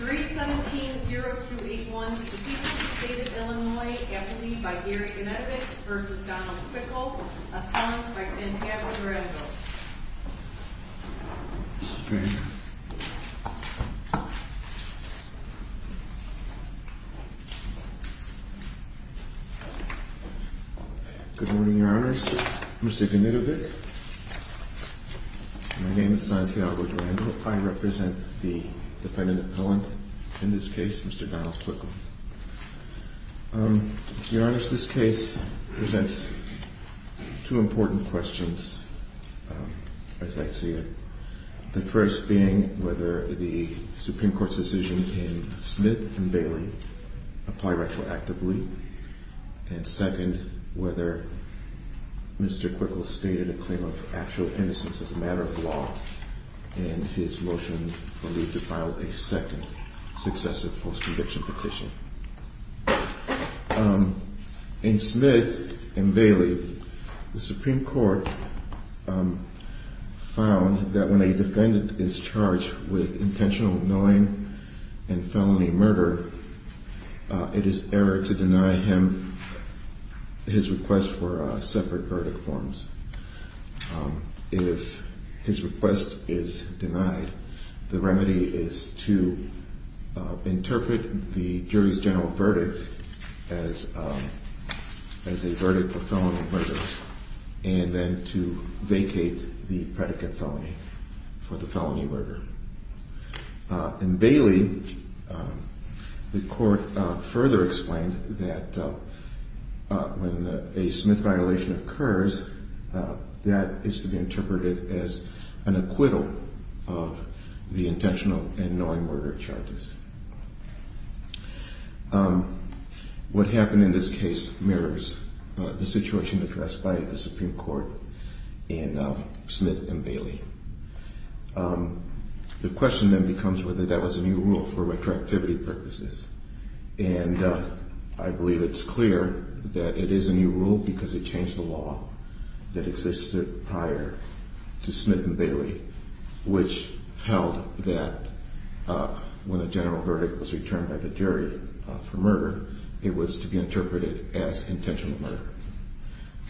317-0281 to the people of the state of Illinois, eponymous by Eric Gnidovich v. Donald Quickle, appellant by Santiago Durango. Good morning, Your Honors. Mr. Gnidovich. My name is Santiago Durango. I represent the defendant appellant in this case, Mr. Donald Quickle. Your Honors, this case presents two important questions, as I see it. The first being whether the Supreme Court's decision in Smith v. Bailey apply retroactively, and second, whether Mr. Quickle stated a claim of actual innocence as a matter of law in his motion to file a second successive post-conviction petition. In Smith v. Bailey, the Supreme Court found that when a defendant is charged with intentional knowing and felony murder, it is error to deny him his request for separate verdict forms. If his request is denied, the remedy is to interpret the jury's general verdict as a verdict for felony murder and then to vacate the predicate felony for the felony murder. In Bailey, the court further explained that when a Smith violation occurs, that is to be interpreted as an acquittal of the intentional and knowing murder charges. What happened in this case mirrors the situation addressed by the Supreme Court in Smith v. Bailey. The question then becomes whether that was a new rule for retroactivity purposes. I believe it's clear that it is a new rule because it changed the law that existed prior to Smith v. Bailey, which held that when the general verdict was returned by the jury for murder, it was to be interpreted as intentional murder.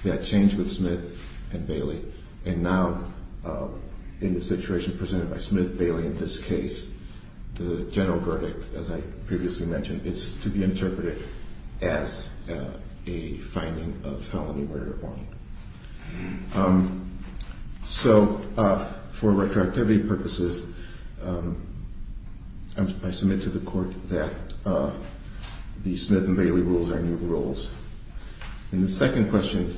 That changed with Smith v. Bailey and now in the situation presented by Smith v. Bailey in this case, the general verdict, as I previously mentioned, is to be interpreted as a finding of felony murder. So for retroactivity purposes, I submit to the court that the Smith v. Bailey rules are new rules. And the second question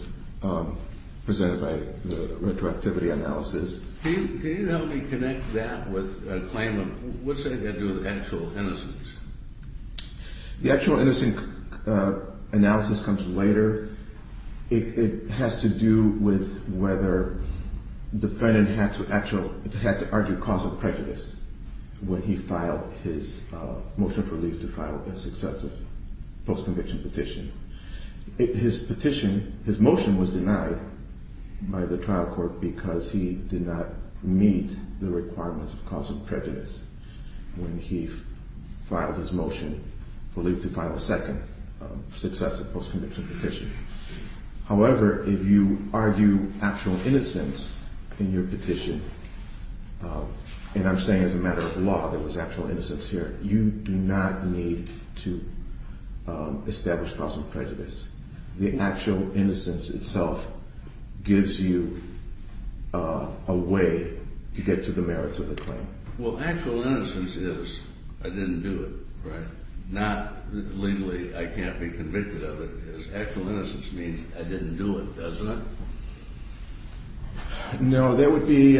presented by the retroactivity analysis. Can you help me connect that with a claim of what's that got to do with actual innocence? The actual innocence analysis comes later. It has to do with whether the defendant had to argue causal prejudice when he filed his motion of relief to file a successive post-conviction petition. His petition, his motion was denied by the trial court because he did not meet the requirements of causal prejudice when he filed his motion for relief to file a second successive post-conviction petition. However, if you argue actual innocence in your petition, and I'm saying as a matter of law there was actual innocence here, you do not need to establish causal prejudice. The actual innocence itself gives you a way to get to the merits of the claim. Well, actual innocence is I didn't do it, right? Not legally I can't be convicted of it. Actual innocence means I didn't do it, doesn't it? No, that would be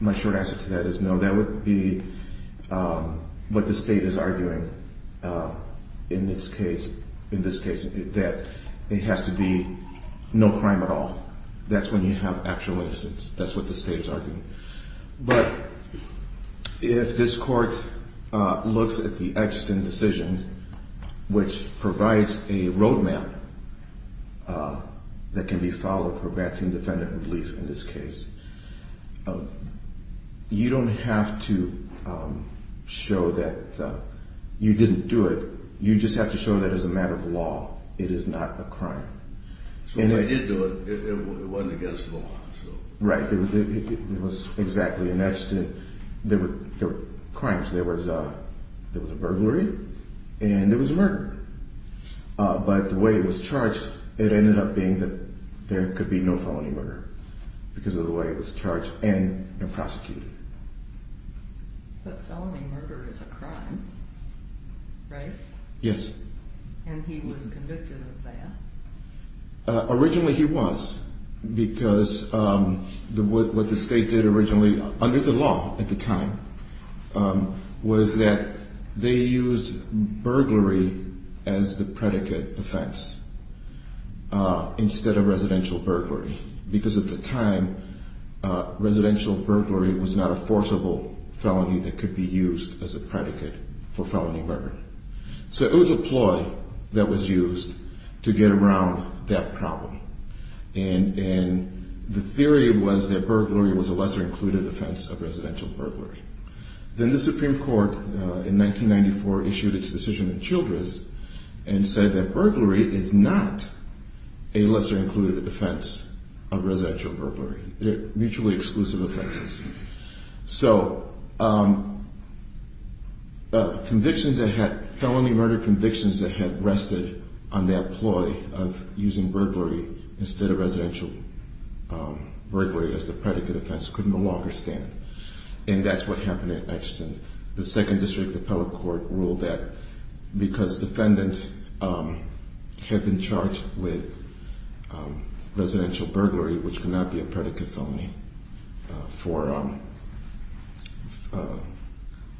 my short answer to that is no. That would be what the state is arguing in this case. In this case, that it has to be no crime at all. That's when you have actual innocence. That's what the state is arguing. But if this court looks at the Exton decision, which provides a roadmap that can be followed for granting defendant relief in this case, you don't have to show that you didn't do it. You just have to show that as a matter of law, it is not a crime. So when they did do it, it wasn't against the law. Right, it was exactly. There were crimes. There was a burglary and there was a murder. But the way it was charged, it ended up being that there could be no felony murder because of the way it was charged and prosecuted. But felony murder is a crime, right? Yes. And he was convicted of that? that was used to get around that problem. And the theory was that burglary was a lesser included offense of residential burglary. Then the Supreme Court in 1994 issued its decision in Childress and said that burglary is not a lesser included offense of residential burglary. They're mutually exclusive offenses. So felony murder convictions that had rested on their ploy of using burglary instead of residential burglary as the predicate offense couldn't no longer stand. And that's what happened in Exeton. The second district appellate court ruled that because defendants had been charged with residential burglary, which could not be a predicate felony for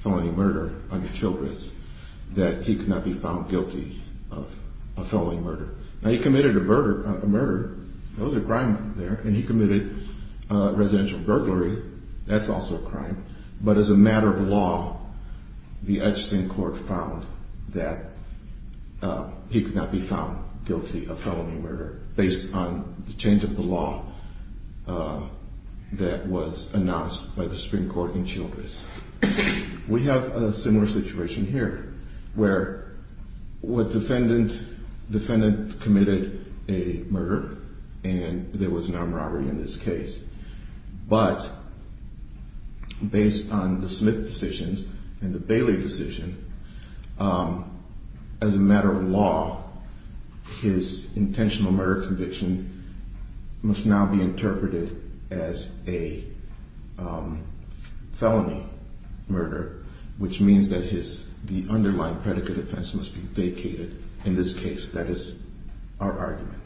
felony murder under Childress, that he could not be found guilty of felony murder. Now he committed a murder. That was a crime there. And he committed residential burglary. That's also a crime. But as a matter of law, the Exeton court found that he could not be found guilty of felony murder based on the change of the law that was announced by the Supreme Court in Childress. We have a similar situation here where a defendant committed a murder and there was an armed robbery in this case. But based on the Smith decision and the Bailey decision, as a matter of law, his intentional murder conviction must now be interpreted as a felony. Which means that the underlying predicate offense must be vacated in this case. That is our argument.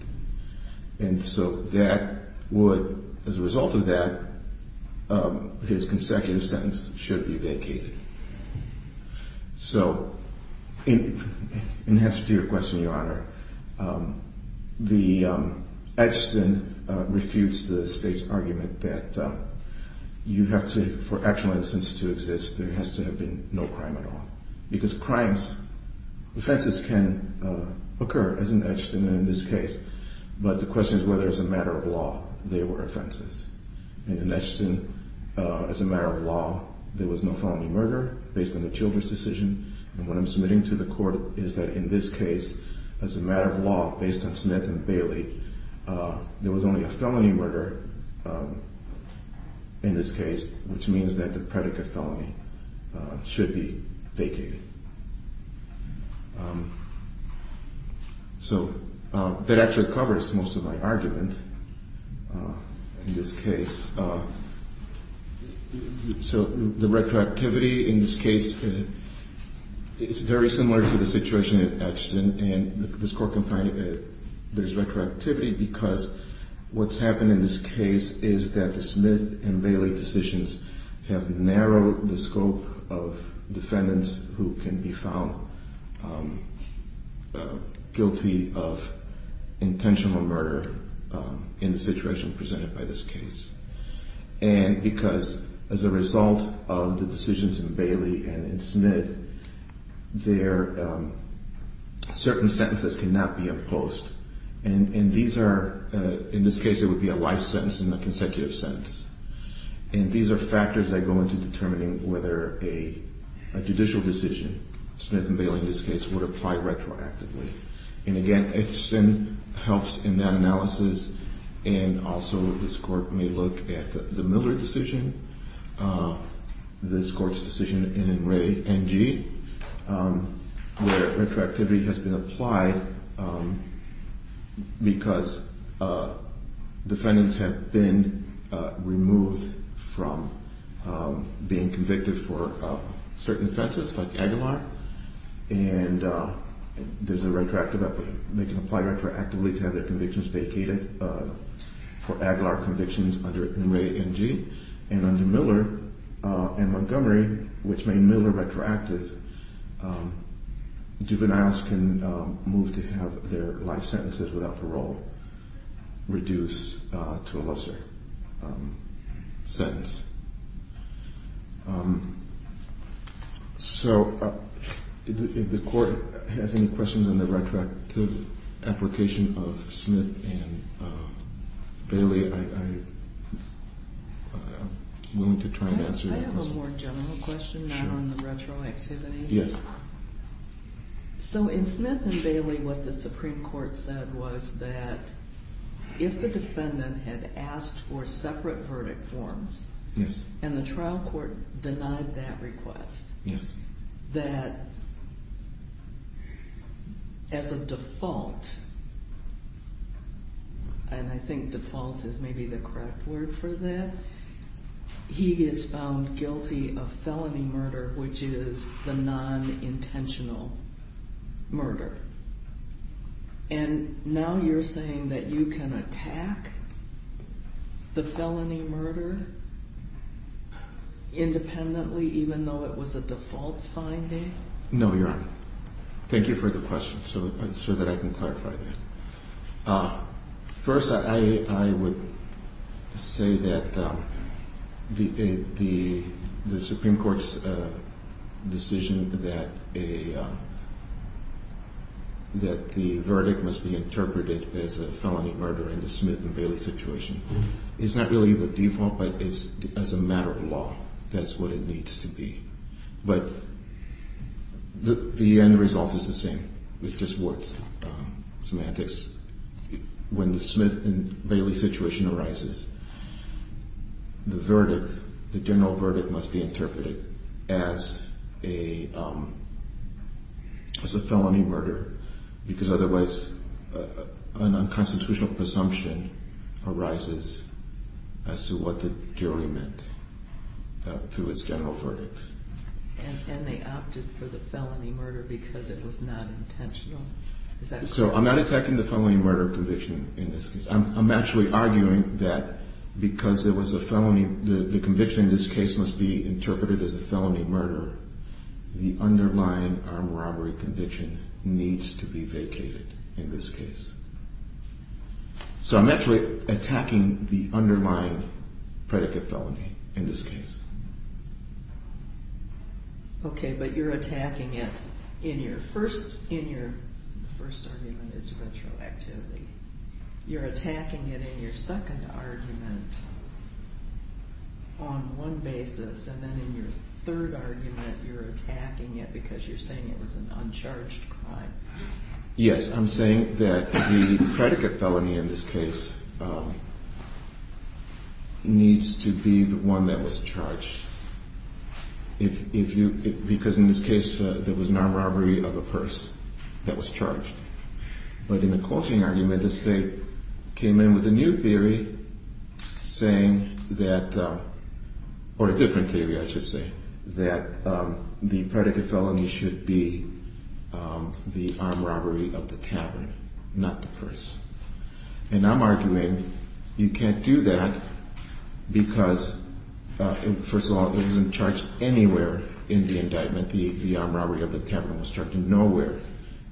And so that would, as a result of that, his consecutive sentence should be vacated. So in answer to your question, Your Honor, the Exeton refutes the state's argument that you have to, for actual innocence to exist, there has to have been no crime at all. Because crimes, offenses can occur as an Exeton in this case. But the question is whether, as a matter of law, they were offenses. In an Exeton, as a matter of law, there was no felony murder based on the Childress decision. And what I'm submitting to the court is that in this case, as a matter of law, based on Smith and Bailey, there was only a felony murder in this case, which means that the predicate felony should be vacated. So that actually covers most of my argument in this case. So the retroactivity in this case is very similar to the situation at Exeton. And this court can find that there's retroactivity because what's happened in this case is that the Smith and Bailey decisions have narrowed the scope of defendants who are convicted. And who can be found guilty of intentional murder in the situation presented by this case. And because, as a result of the decisions in Bailey and in Smith, certain sentences cannot be imposed. And these are, in this case it would be a life sentence and a consecutive sentence. And these are factors that go into determining whether a judicial decision, Smith and Bailey in this case, would apply retroactively. And again, Exeton helps in that analysis. And also this court may look at the Miller decision, this court's decision in Ray NG, where retroactivity has been applied because defendants have been removed from being convicted for certain offenses like Aguilar. And there's a retroactive, they can apply retroactively to have their convictions vacated for Aguilar convictions under Ray NG. And under Miller and Montgomery, which made Miller retroactive, juveniles can move to have their life sentences without parole reduced to a lesser sentence. So, if the court has any questions on the retroactive application of Smith and Bailey, I'm willing to try and answer those. Can I ask a more general question, not on the retroactivity? Yes. So, in Smith and Bailey, what the Supreme Court said was that if the defendant had asked for separate verdict forms, and the trial court denied that request, that as a default, and I think default is maybe the correct word for that, he is found guilty of felony murder, which is the non-intentional murder. And now you're saying that you can attack the felony murder independently, even though it was a default finding? No, Your Honor. Thank you for the question, so that I can clarify that. First, I would say that the Supreme Court's decision that the verdict must be interpreted as a felony murder in the Smith and Bailey situation is not really the default, but as a matter of law, that's what it needs to be. But the end result is the same, which is what semantics, when the Smith and Bailey situation arises, the verdict, the general verdict must be interpreted as a felony murder, because otherwise an unconstitutional presumption arises as to what the jury meant through its general verdict. And they opted for the felony murder because it was not intentional? Okay, but you're attacking it in your first argument is retroactivity. You're attacking it in your second argument on one basis, and then in your third argument you're attacking it because you're saying it was an uncharged crime. Yes, I'm saying that the predicate felony in this case needs to be the one that was charged. Because in this case there was non-robbery of a purse that was charged. But in the closing argument, the state came in with a new theory saying that, or a different theory I should say, that the predicate felony should be the armed robbery of the tavern, not the purse. And I'm arguing you can't do that because, first of all, it wasn't charged anywhere in the indictment. The armed robbery of the tavern was charged nowhere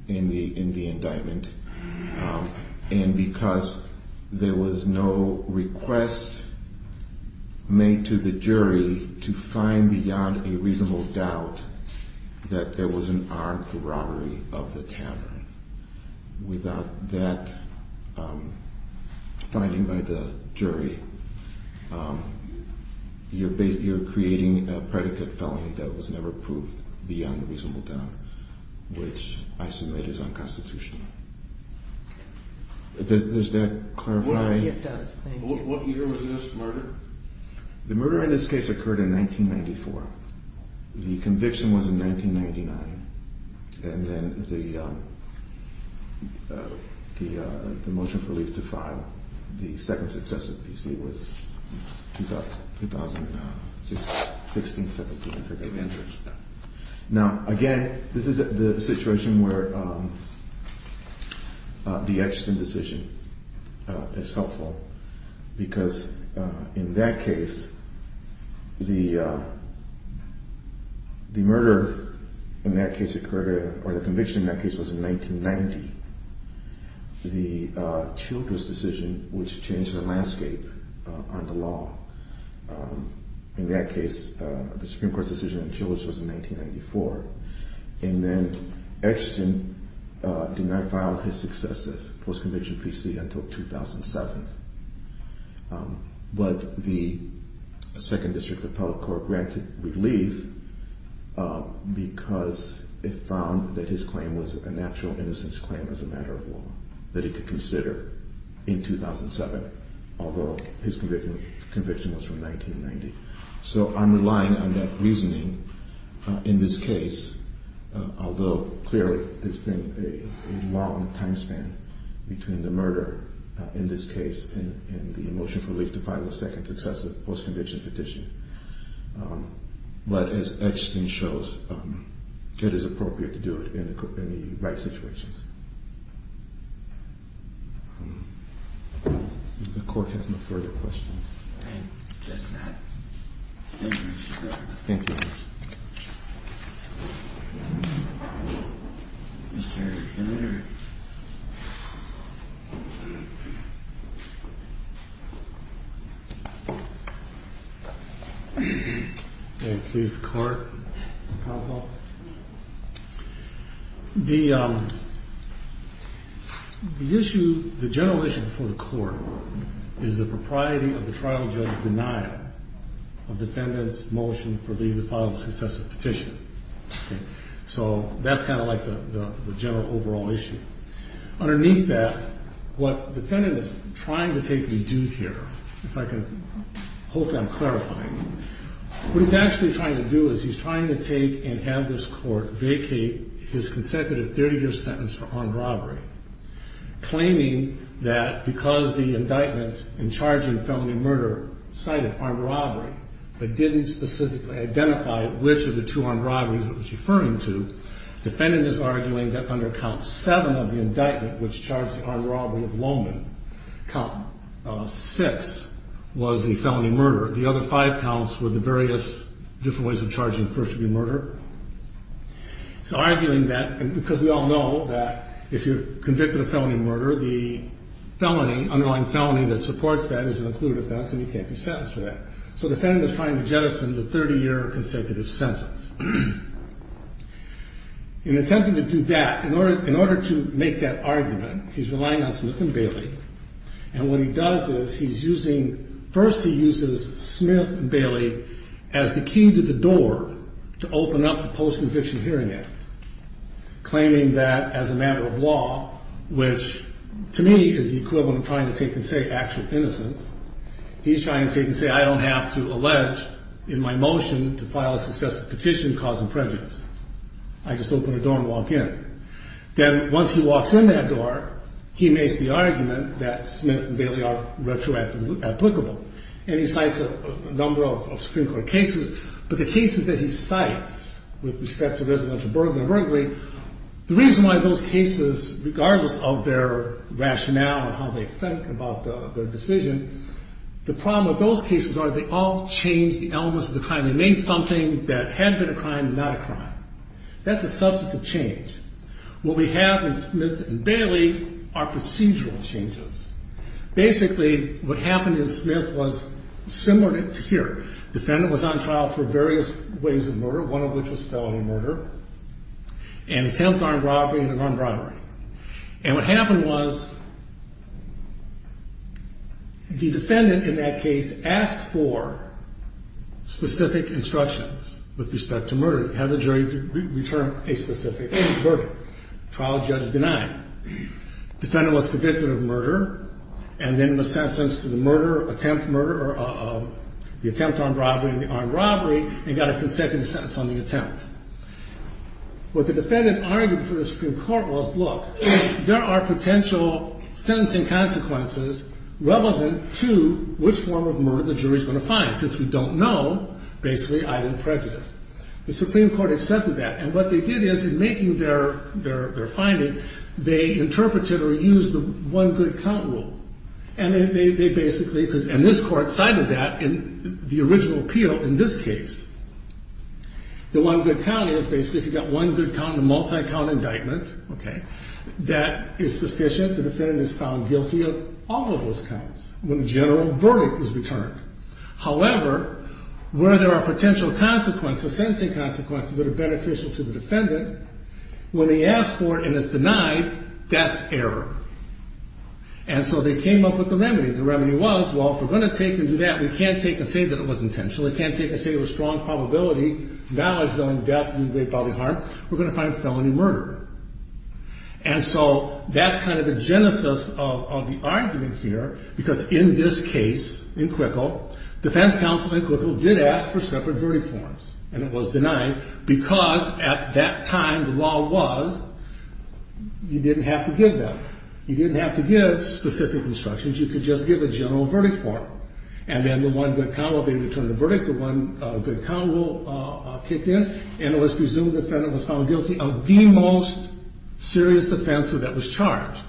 in the indictment. And because there was no request made to the jury to find beyond a reasonable doubt that there was an armed robbery of the tavern. Without that finding by the jury, you're creating a predicate felony that was never proved beyond a reasonable doubt, which I submit is unconstitutional. Does that clarify? The Edgerton decision is helpful because in that case, the murder in that case occurred, or the conviction in that case was in 1990. The Childress decision, which changed the landscape on the law, in that case the Supreme Court decision on Childress was in 1994. And then Edgerton did not file his successive post-conviction PC until 2007. But the Second District Appellate Court granted relief because it found that his claim was a natural innocence claim as a matter of law, that he could consider in 2007, although his conviction was from 1990. So I'm relying on that reasoning in this case, although clearly there's been a long time span between the murder in this case and the motion for relief to file a second successive post-conviction petition. But as Edgerton shows, it is appropriate to do it in the right situations. The Court has no further questions. Thank you, Your Honor. Thank you, Your Honor. Mr. Kennedy. May it please the Court, counsel? Well, the issue, the general issue before the Court is the propriety of the trial judge's denial of defendant's motion for leave to file a successive petition. So that's kind of like the general overall issue. Underneath that, what the defendant is trying to take and do here, if I can hope I'm clarifying, what he's actually trying to do is he's trying to take and have this Court vacate his consecutive 30-year sentence for armed robbery, claiming that because the indictment in charge of the felony murder cited armed robbery but didn't specifically identify which of the two armed robberies it was referring to, defendant is arguing that under count seven of the indictment, which charged the armed robbery of Lowman, count six was the felony murder. The other five counts were the various different ways of charging first degree murder. So arguing that because we all know that if you're convicted of felony murder, the felony, underlying felony that supports that is an included offense and you can't be sentenced for that. So the defendant is trying to jettison the 30-year consecutive sentence. In attempting to do that, in order to make that argument, he's relying on Smith and Bailey. And what he does is he's using, first he uses Smith and Bailey as the key to the door to open up the Post-Conviction Hearing Act, claiming that as a matter of law, which to me is the equivalent of trying to take and say actual innocence, he's trying to take and say I don't have to allege in my motion to file a successive petition causing prejudice. I just open the door and walk in. Then once he walks in that door, he makes the argument that Smith and Bailey are retroactively applicable. And he cites a number of Supreme Court cases. But the cases that he cites with respect to residential burglary, the reason why those cases, regardless of their rationale and how they think about their decision, the problem with those cases are they all change the elements of the crime. They made something that had been a crime and not a crime. That's a substantive change. What we have in Smith and Bailey are procedural changes. Basically, what happened in Smith was similar to here. Defendant was on trial for various ways of murder, one of which was felony murder and attempt armed robbery and unarmed robbery. And what happened was the defendant in that case asked for specific instructions with respect to murder, had the jury return a specific verdict. Trial judge denied. Defendant was convicted of murder and then was sentenced to the murder, attempt murder, the attempt armed robbery and the armed robbery and got a consecutive sentence on the attempt. What the defendant argued for the Supreme Court was, look, there are potential sentencing consequences relevant to which form of murder the jury is going to find. Since we don't know, basically, I didn't prejudice. The Supreme Court accepted that. And what they did is in making their finding, they interpreted or used the one good count rule. And this court cited that in the original appeal in this case. The one good count is basically if you got one good count in a multi-count indictment, that is sufficient. The defendant is found guilty of all of those counts when the general verdict is returned. However, where there are potential consequences, sentencing consequences that are beneficial to the defendant, when they ask for it and it's denied, that's error. And so they came up with a remedy. The remedy was, well, if we're going to take and do that, we can't take and say that it was intentional. We can't take and say it was strong probability, knowledge, knowing death and grave bodily harm. We're going to find felony murder. And so that's kind of the genesis of the argument here. Because in this case, in Quickel, defense counsel in Quickel did ask for separate verdict forms. And it was denied because at that time the law was you didn't have to give them. You didn't have to give specific instructions. You could just give a general verdict form. And then the one good count will be returned the verdict. The one good count will kick in. And it was presumed the defendant was found guilty of the most serious offense that was charged.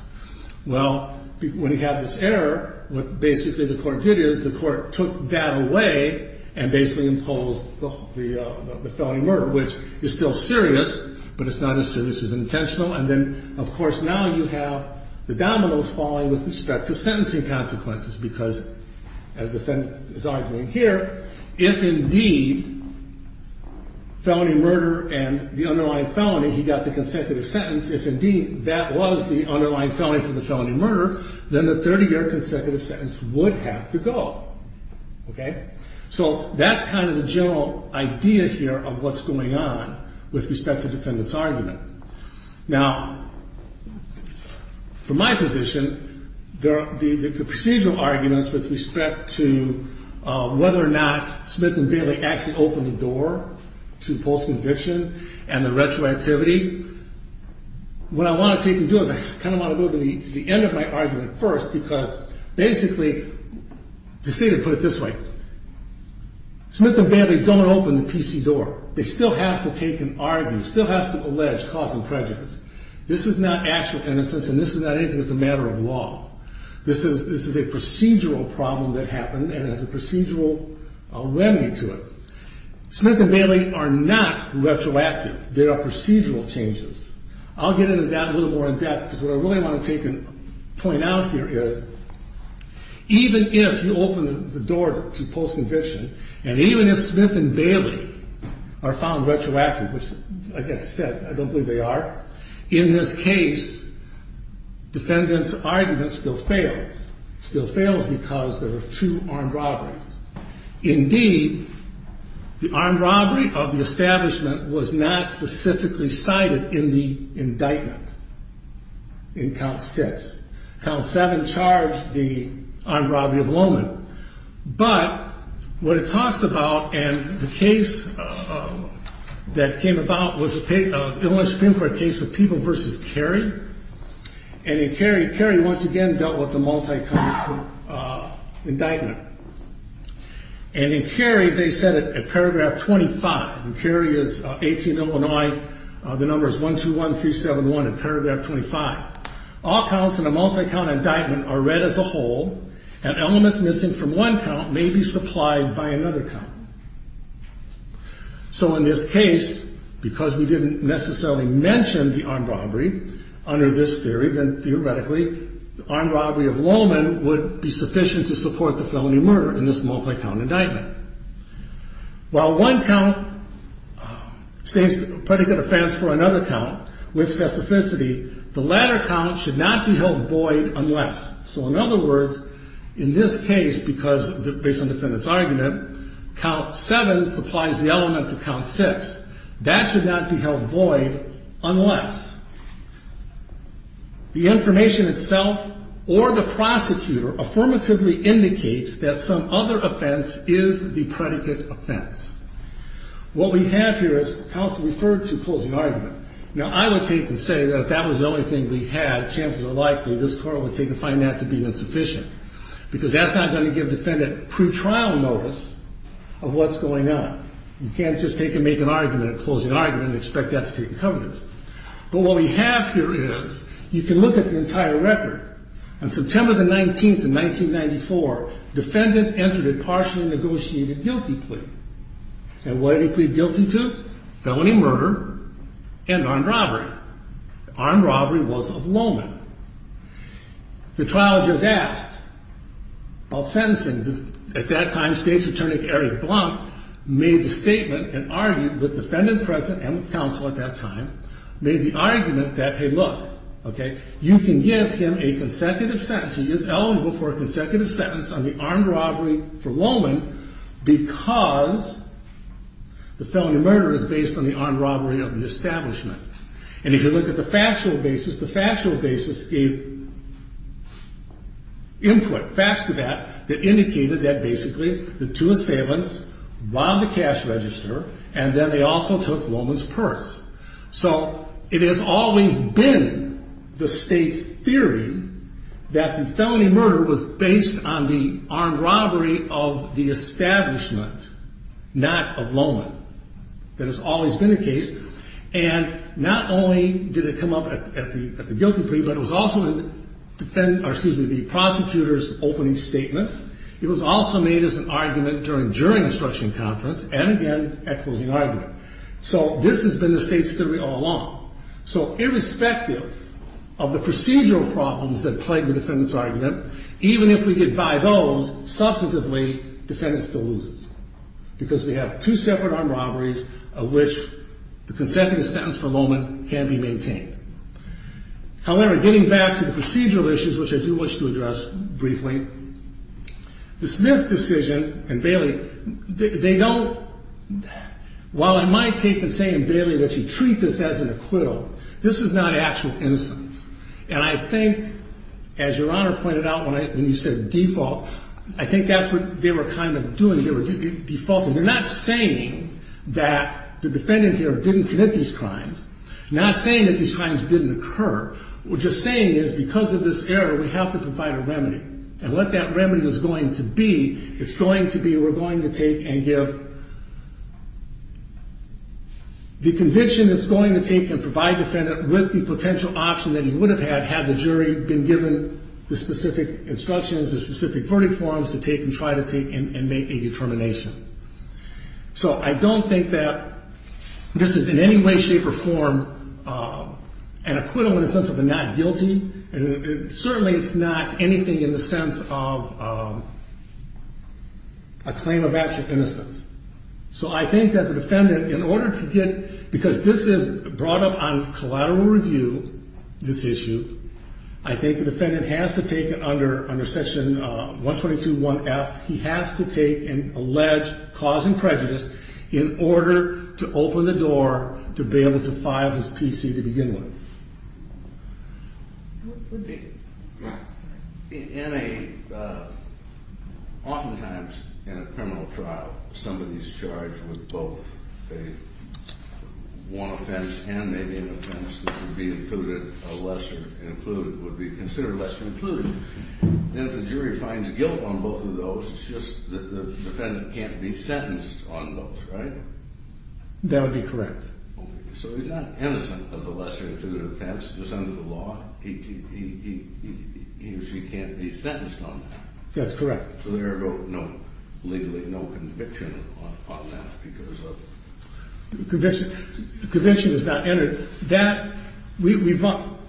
Well, when you have this error, what basically the court did is the court took that away and basically imposed the felony murder, which is still serious. But it's not as serious as intentional. And then, of course, now you have the dominoes falling with respect to sentencing consequences. Because as the defendant is arguing here, if indeed felony murder and the underlying felony, he got the consecutive sentence. If indeed that was the underlying felony for the felony murder, then the 30-year consecutive sentence would have to go. So that's kind of the general idea here of what's going on with respect to the defendant's argument. Now, from my position, the procedural arguments with respect to whether or not Smith and Bailey actually opened the door to post-conviction and the retroactivity, what I want to take and do is I kind of want to go to the end of my argument first. Because basically, to put it this way, Smith and Bailey don't open the PC door. They still have to take and argue, still have to allege cause and prejudice. This is not actual innocence, and this is not anything that's a matter of law. This is a procedural problem that happened and has a procedural remedy to it. Smith and Bailey are not retroactive. They are procedural changes. I'll get into that a little more in depth, because what I really want to take and point out here is even if you open the door to post-conviction, and even if Smith and Bailey are found retroactive, which like I said, I don't believe they are, in this case, defendant's argument still fails. It still fails because there are two armed robberies. Indeed, the armed robbery of the establishment was not specifically cited in the indictment in count six. Count seven charged the armed robbery of Lowman. But what it talks about, and the case that came about was an Illinois Supreme Court case of People v. Cary. And in Cary, Cary once again dealt with the multi-count indictment. And in Cary, they said in paragraph 25, and Cary is 18, Illinois. The number is 121371 in paragraph 25. All counts in a multi-count indictment are read as a whole, and elements missing from one count may be supplied by another count. So in this case, because we didn't necessarily mention the armed robbery under this theory, then theoretically the armed robbery of Lowman would be sufficient to support the felony murder in this multi-count indictment. While one count stays a pretty good offense for another count with specificity, the latter count should not be held void unless. So in other words, in this case, because based on the defendant's argument, count seven supplies the element of count six. That should not be held void unless the information itself or the prosecutor affirmatively indicates that some other offense is the predicate offense. What we have here is counts referred to closing argument. Now, I would take and say that if that was the only thing we had, chances are likely this court would take a fine that to be insufficient. Because that's not going to give defendant pre-trial notice of what's going on. You can't just take and make an argument and close the argument and expect that to take the covenant. But what we have here is, you can look at the entire record. On September the 19th of 1994, defendant entered a partially negotiated guilty plea. And what did he plead guilty to? Felony murder and armed robbery. Armed robbery was of Lowman. The trial judge asked, while sentencing, at that time state's attorney, Eric Blount, made the statement and argued with defendant present and with counsel at that time, made the argument that, hey, look, you can give him a consecutive sentence. He is eligible for a consecutive sentence on the armed robbery for Lowman because the felony murder is based on the armed robbery of the establishment. And if you look at the factual basis, the factual basis gave input, facts to that, that indicated that basically the two assailants robbed the cash register and then they also took Lowman's purse. So it has always been the state's theory that the felony murder was based on the armed robbery of the establishment, not of Lowman. That has always been the case. And not only did it come up at the guilty plea, but it was also in the prosecutor's opening statement. It was also made as an argument during and during the stretching conference and, again, at closing argument. So this has been the state's theory all along. So irrespective of the procedural problems that plague the defendant's argument, even if we get five Os, substantively, defendant still loses because we have two separate armed robberies of which the consecutive sentence for Lowman can be maintained. However, getting back to the procedural issues, which I do wish to address briefly, the Smith decision and Bailey, they don't, while I might take the same, Bailey, that you treat this as an acquittal, this is not actual innocence. And I think, as Your Honor pointed out when you said default, I think that's what they were kind of doing. They were defaulting. They're not saying that the defendant here didn't commit these crimes, not saying that these crimes didn't occur. What they're saying is because of this error, we have to provide a remedy. And what that remedy is going to be, it's going to be we're going to take and give the conviction that's going to take and provide the defendant with the potential option that he would have had had the jury been given the specific instructions, the specific verdict forms to take and try to take and make a determination. So I don't think that this is in any way, shape, or form an acquittal in the sense of a not guilty. Certainly it's not anything in the sense of a claim of actual innocence. So I think that the defendant, in order to get, because this is brought up on collateral review, this issue, I think the defendant has to take it under Section 122.1.F. He has to take an alleged cause in prejudice in order to open the door to be able to file his PC to begin with. In a, oftentimes in a criminal trial, somebody's charged with both a one offense and maybe an offense that would be included, a lesser included, would be considered lesser included. Then if the jury finds guilt on both of those, it's just that the defendant can't be sentenced on both, right? That would be correct. So he's not innocent of the lesser included offense. It's under the law. He or she can't be sentenced on that. That's correct. So there are no, legally, no conviction on that because of... Conviction is not entered. That, we've run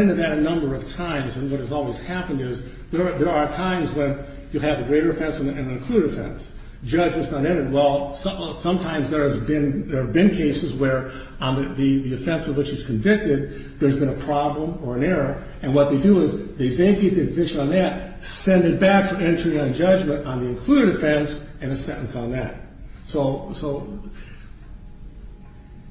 into that a number of times, and what has always happened is there are times when you have a greater offense and an included offense. Judgment's not entered. Well, sometimes there have been cases where on the offense of which it's convicted, there's been a problem or an error, and what they do is they vacate the conviction on that, send it back for entry on judgment on the included offense, and a sentence on that. So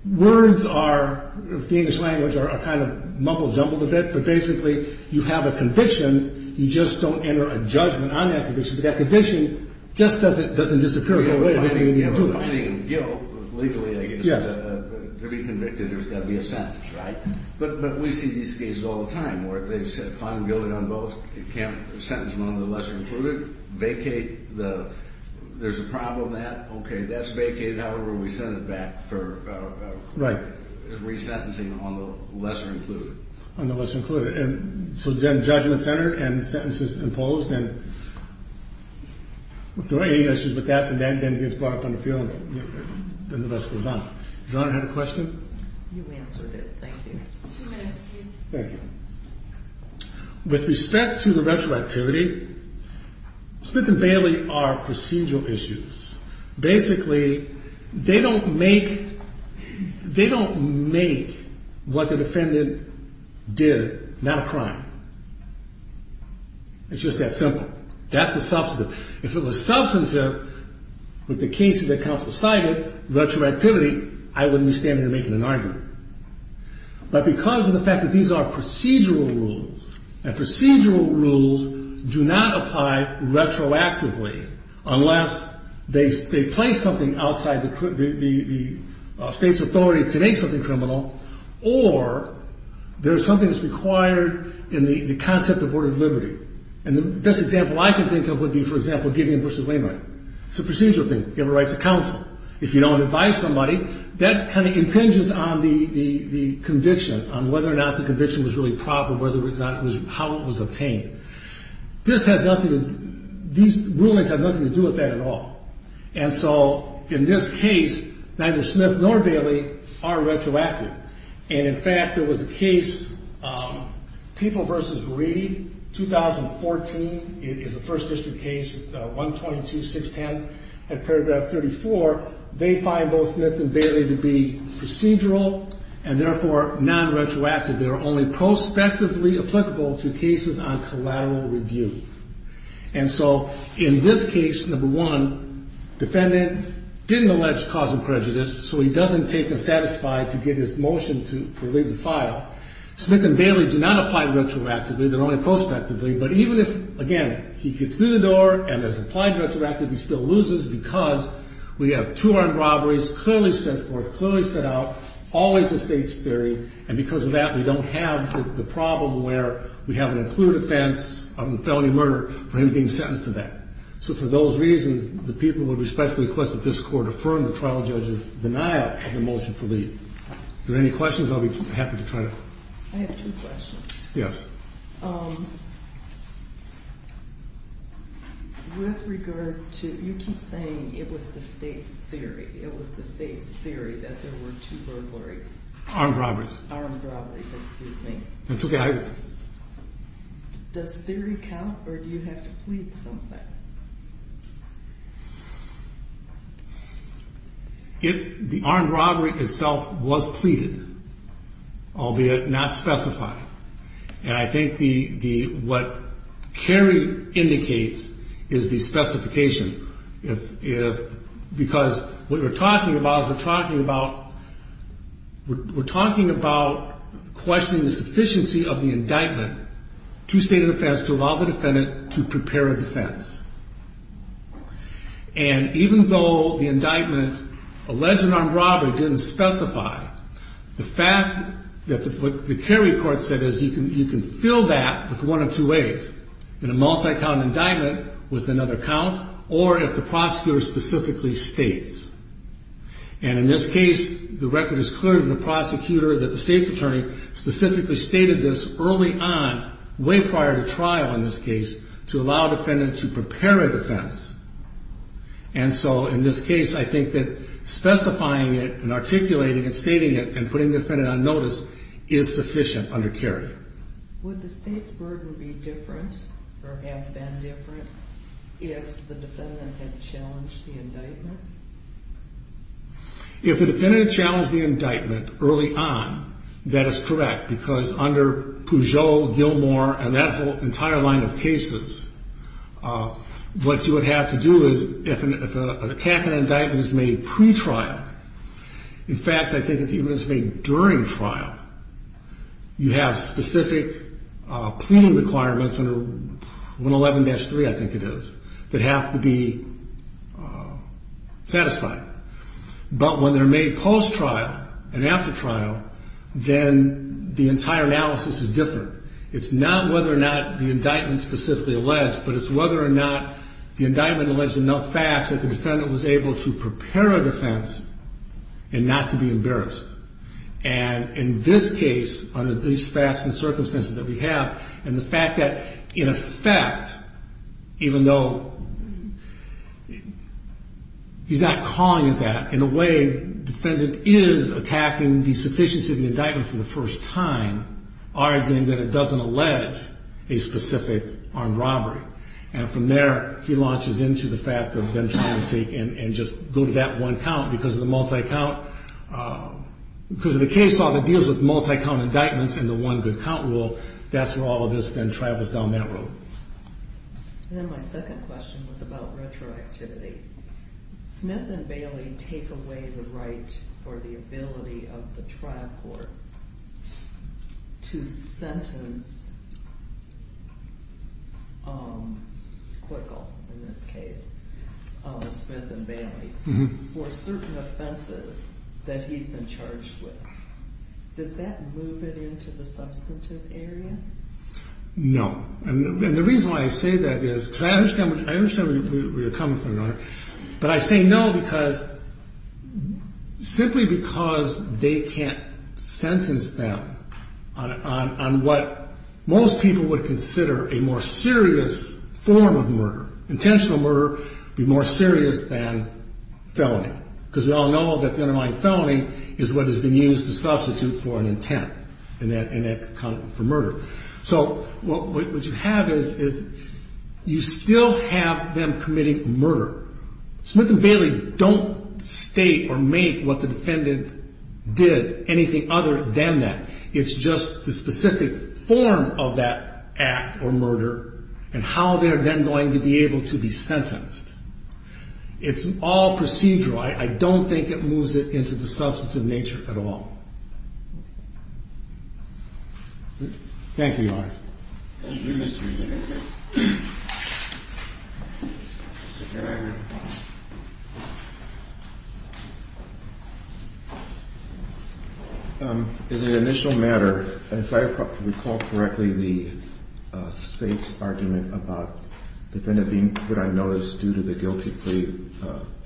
words are, the English language are kind of mumble-jumbled a bit, but basically you have a conviction. You just don't enter a judgment on that conviction, but that conviction just doesn't disappear. You're finding guilt, legally, I guess. Yes. To be convicted, there's got to be a sentence, right? But we see these cases all the time where they've said fine, I'm guilty on both. You can't sentence them on the lesser included. Vacate the, there's a problem there. Okay, that's vacated. However, we send it back for re-sentencing on the lesser included. On the lesser included. And so then judgment's entered, and the sentence is imposed, and if there are any issues with that, then it gets brought up on appeal, and then the rest goes on. Does your Honor have a question? You answered it. Thank you. Two minutes, please. Thank you. With respect to the retroactivity, Smith and Bailey are procedural issues. Basically, they don't make, they don't make what the defendant did not a crime. It's just that simple. That's the substantive. If it was substantive with the cases that counsel cited, retroactivity, I wouldn't be standing here making an argument. But because of the fact that these are procedural rules, and procedural rules do not apply retroactively, unless they place something outside the state's authority to make something criminal, or there's something that's required in the concept of order of liberty. And the best example I can think of would be, for example, Gideon v. Wainwright. It's a procedural thing. You have a right to counsel. If you don't advise somebody, that kind of impinges on the conviction, on whether or not the conviction was really proper, whether or not it was, how it was obtained. This has nothing to, these rulings have nothing to do with that at all. And so, in this case, neither Smith nor Bailey are retroactive. And, in fact, there was a case, People v. Reed, 2014. It is a First District case. It's the 122-610 at paragraph 34. They find both Smith and Bailey to be procedural and, therefore, non-retroactive. They are only prospectively applicable to cases on collateral review. And so, in this case, number one, defendant didn't allege cause of prejudice, so he doesn't take the satisfied to get his motion to relieve the file. Smith and Bailey do not apply retroactively. They're only prospectively. But even if, again, he gets through the door and is applied retroactively, he still loses because we have two armed robberies, clearly set forth, clearly set out, always the state's theory, and because of that, we don't have the problem where we have an included offense of a felony murder for him being sentenced to that. So, for those reasons, the people would respectfully request that this Court affirm the trial judge's denial of the motion to relieve. Are there any questions? I'll be happy to try to. I have two questions. Yes. With regard to, you keep saying it was the state's theory, it was the state's theory that there were two burglaries. Armed robberies. Armed robberies, excuse me. That's okay. Does theory count or do you have to plead something? The armed robbery itself was pleaded, albeit not specified. And I think what Kerry indicates is the specification. Because what we're talking about is we're talking about questioning the sufficiency of the indictment to state an offense to allow the defendant to prepare a defense. And even though the indictment alleged an armed robbery didn't specify, the fact that what the Kerry court said is you can fill that with one of two ways, in a multi-count indictment with another count, or if the prosecutor specifically states. And in this case, the record is clear to the prosecutor that the state's attorney specifically stated this early on, way prior to trial in this case, to allow a defendant to prepare a defense. And so in this case, I think that specifying it and articulating it, stating it, and putting the defendant on notice is sufficient under Kerry. Would the state's burden be different or have been different if the defendant had challenged the indictment? If the defendant challenged the indictment early on, that is correct. Because under Peugeot, Gilmore, and that entire line of cases, what you would have to do is if an attack on an indictment is made pre-trial, in fact, I think it's even if it's made during trial, you have specific pleading requirements under 111-3, I think it is, that have to be satisfied. But when they're made post-trial and after trial, then the entire analysis is different. It's not whether or not the indictment is specifically alleged, but it's whether or not the indictment alleged enough facts that the defendant was able to prepare a defense and not to be embarrassed. And in this case, under these facts and circumstances that we have, and the fact that, in effect, even though he's not calling it that, in a way, the defendant is attacking the sufficiency of the indictment for the first time, arguing that it doesn't allege a specific armed robbery. And from there, he launches into the fact of them trying to take and just go to that one count because of the multi-count. Because of the case law that deals with multi-count indictments and the one good count rule, that's where all of this then travels down that road. And then my second question was about retroactivity. Smith and Bailey take away the right or the ability of the trial court to sentence Quickel, in this case, or Smith and Bailey, for certain offenses that he's been charged with. Does that move it into the substantive area? No. And the reason why I say that is because I understand where you're coming from, Your Honor. But I say no simply because they can't sentence them on what most people would consider a more serious form of murder. Intentional murder would be more serious than felony because we all know that the underlying felony is what has been used to substitute for an intent in that account for murder. So what you have is you still have them committing murder. Smith and Bailey don't state or make what the defendant did anything other than that. It's just the specific form of that act or murder and how they're then going to be able to be sentenced. It's all procedural. I don't think it moves it into the substantive nature at all. Thank you, Your Honor. Thank you, Mr. Regan. Mr. Geiger. As an initial matter, if I recall correctly, the State's argument about the defendant being put on notice due to the guilty plea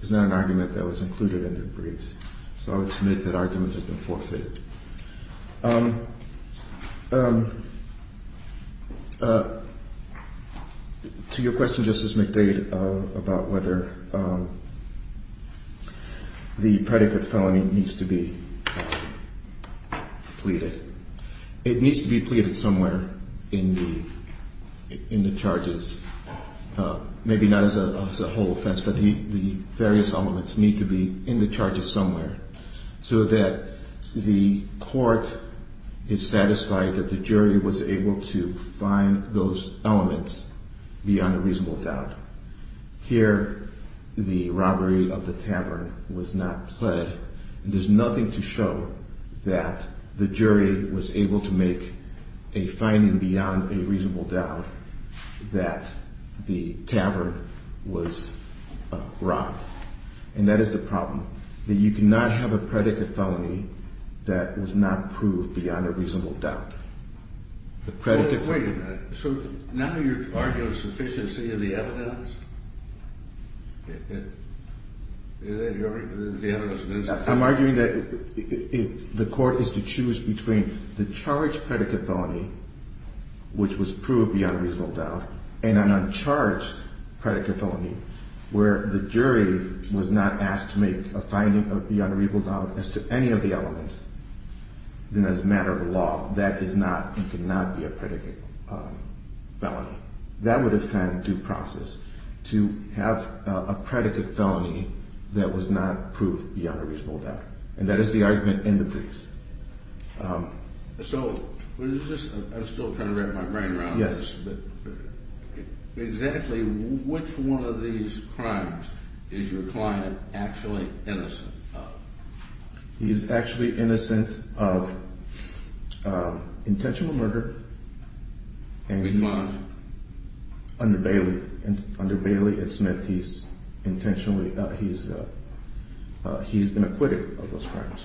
is not an argument that was included in the briefs. So I would submit that argument has been forfeited. To your question, Justice McDade, about whether the predicate felony needs to be pleaded, it needs to be pleaded somewhere in the charges. Maybe not as a whole offense, but the various elements need to be in the charges somewhere so that the court is satisfied that the jury was able to find those elements beyond a reasonable doubt. Here, the robbery of the tavern was not pled. There's nothing to show that the jury was able to make a finding beyond a reasonable doubt that the tavern was robbed. And that is the problem, that you cannot have a predicate felony that was not proved beyond a reasonable doubt. Wait a minute. So now you're arguing sufficiency of the evidence? I'm arguing that if the court is to choose between the charged predicate felony, which was proved beyond a reasonable doubt, and an uncharged predicate felony where the jury was not asked to make a finding beyond a reasonable doubt as to any of the elements, then as a matter of law, that is not and cannot be a predicate felony. That would offend due process. To have a predicate felony that was not proved beyond a reasonable doubt. And that is the argument in the case. So, I'm still trying to wrap my brain around this. Yes. Exactly which one of these crimes is your client actually innocent of? He's actually innocent of intentional murder. Which one? Under Bailey. Under Bailey and Smith, he's been acquitted of those crimes.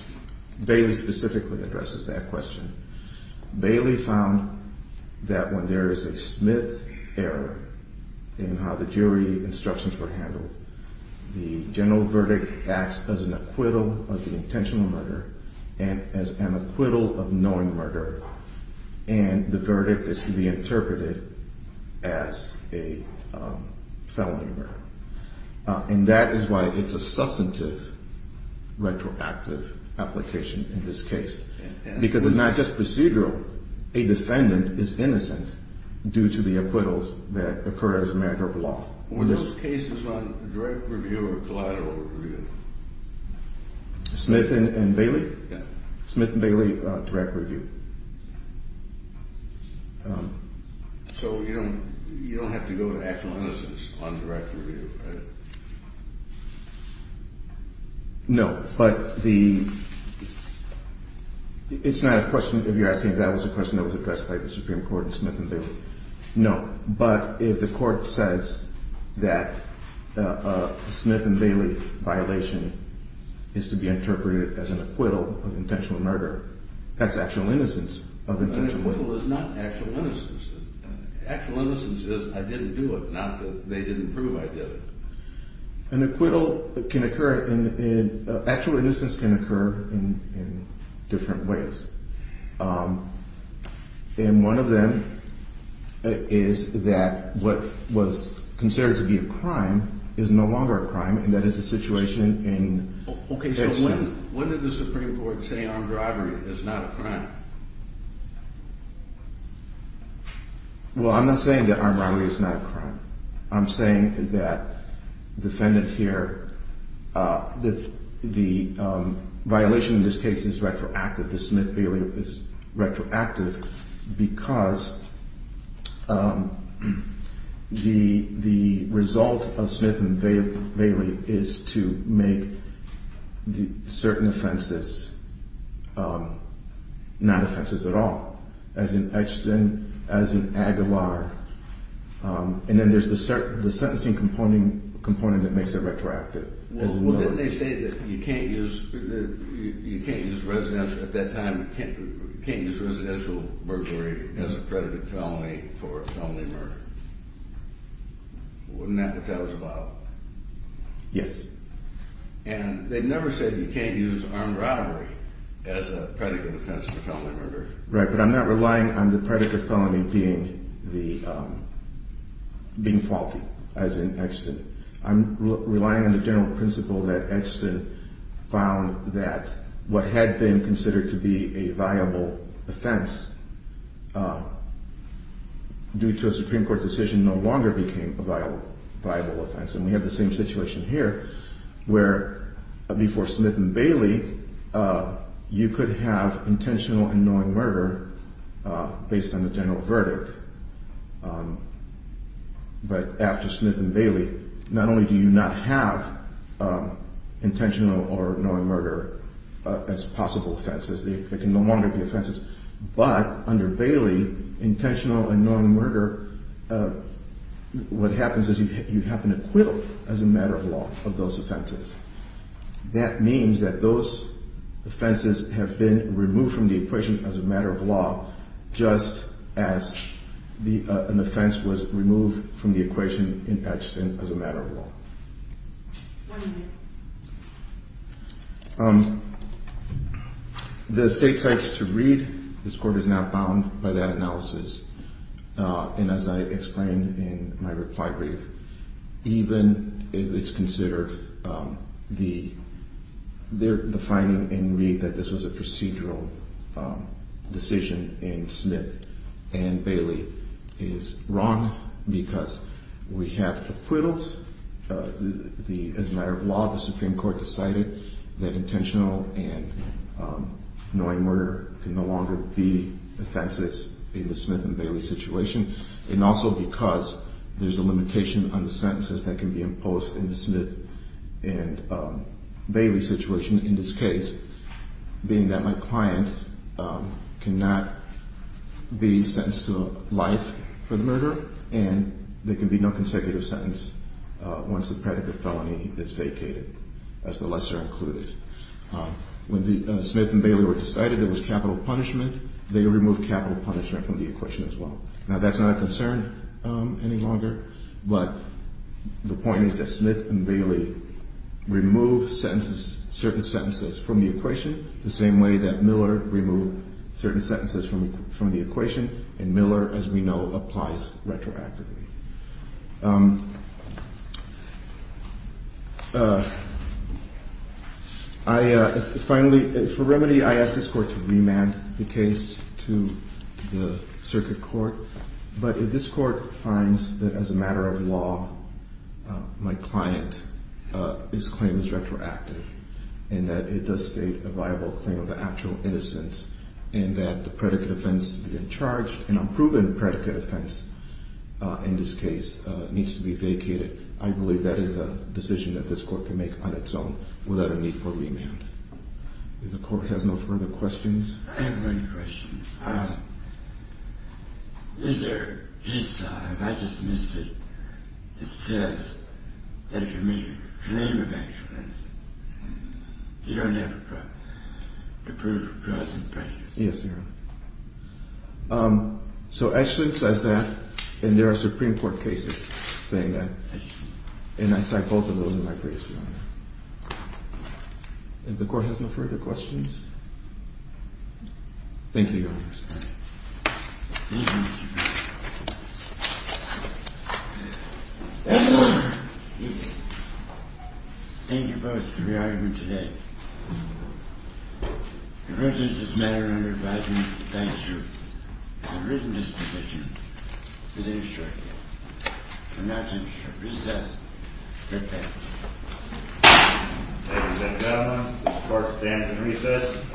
Bailey specifically addresses that question. Bailey found that when there is a Smith error in how the jury instructions were handled, the general verdict acts as an acquittal of the intentional murder and as an acquittal of knowing murder. And the verdict is to be interpreted as a felony murder. And that is why it's a substantive retroactive application in this case. Because it's not just procedural. A defendant is innocent due to the acquittals that occur as a matter of law. Were those cases on direct review or collateral review? Smith and Bailey? Yes. Smith and Bailey, direct review. So, you don't have to go to actual innocence on direct review, right? No. But it's not a question if you're asking if that was a question that was addressed by the Supreme Court in Smith and Bailey. No. But if the court says that a Smith and Bailey violation is to be interpreted as an acquittal of intentional murder, that's actual innocence of intentional murder. An acquittal is not actual innocence. Actual innocence is I didn't do it, not that they didn't prove I did it. An acquittal can occur in – actual innocence can occur in different ways. And one of them is that what was considered to be a crime is no longer a crime, and that is the situation in – Okay, so when did the Supreme Court say armed robbery is not a crime? Well, I'm not saying that armed robbery is not a crime. I'm saying that the defendant here – the violation in this case is retroactive. The Smith-Bailey is retroactive because the result of Smith and Bailey is to make certain offenses not offenses at all, as in Etchton, as in Aguilar. And then there's the sentencing component that makes it retroactive. Well, didn't they say that you can't use residential – at that time, you can't use residential murder as a predicate felony for a felony murder? Wasn't that what that was about? Yes. And they never said you can't use armed robbery as a predicate offense for felony murder. Right, but I'm not relying on the predicate felony being the – being faulty, as in Etchton. I'm relying on the general principle that Etchton found that what had been considered to be a viable offense due to a Supreme Court decision no longer became a viable offense. And we have the same situation here, where before Smith and Bailey, you could have intentional and knowing murder based on the general verdict. But after Smith and Bailey, not only do you not have intentional or knowing murder as possible offenses – they can no longer be offenses – but under Bailey, intentional and knowing murder, what happens is you have an acquittal as a matter of law of those offenses. That means that those offenses have been removed from the equation as a matter of law, just as the – an offense was removed from the equation in Etchton as a matter of law. What do you do? The State cites to Reed. This Court is not bound by that analysis. And as I explained in my reply brief, even if it's considered the – the finding in Reed that this was a procedural decision in Smith and Bailey is wrong because we have acquittals, the – as a matter of law, the Supreme Court decided that intentional and knowing murder can no longer be offenses in the Smith and Bailey situation. And also because there's a limitation on the sentences that can be imposed in the Smith and Bailey situation. In this case, being that my client cannot be sentenced to life for the murder, and there can be no consecutive sentence once the predicate felony is vacated, as the lesser included. When the – Smith and Bailey were decided there was capital punishment, they removed capital punishment from the equation as well. Now, that's not a concern any longer, but the point is that Smith and Bailey removed sentences – certain sentences from the equation the same way that Miller removed certain sentences from the equation. And Miller, as we know, applies retroactively. I – finally, for remedy, I ask this Court to remand the case to the Circuit Court. But if this Court finds that as a matter of law, my client's claim is retroactive, and that it does state a viable claim of actual innocence, and that the predicate offense in charge, an unproven predicate offense in this case, needs to be vacated, I believe that is a decision that this Court can make on its own without a need for remand. If the Court has no further questions. I have one question. Is there – I just missed it. It says that if you make a claim of actual innocence, you don't have to prove cause and effect. Yes, Your Honor. So actually it says that, and there are Supreme Court cases saying that. And I cite both of those in my previous hearing. If the Court has no further questions. Thank you, Your Honor. Thank you, Mr. Bishop. Thank you both for your argument today. The versions of this matter are under advisement of the plaintiffs' group. I have written this petition to the District Court. And now it's time to recess and prepare. Ladies and gentlemen, this Court stands in recess as stated.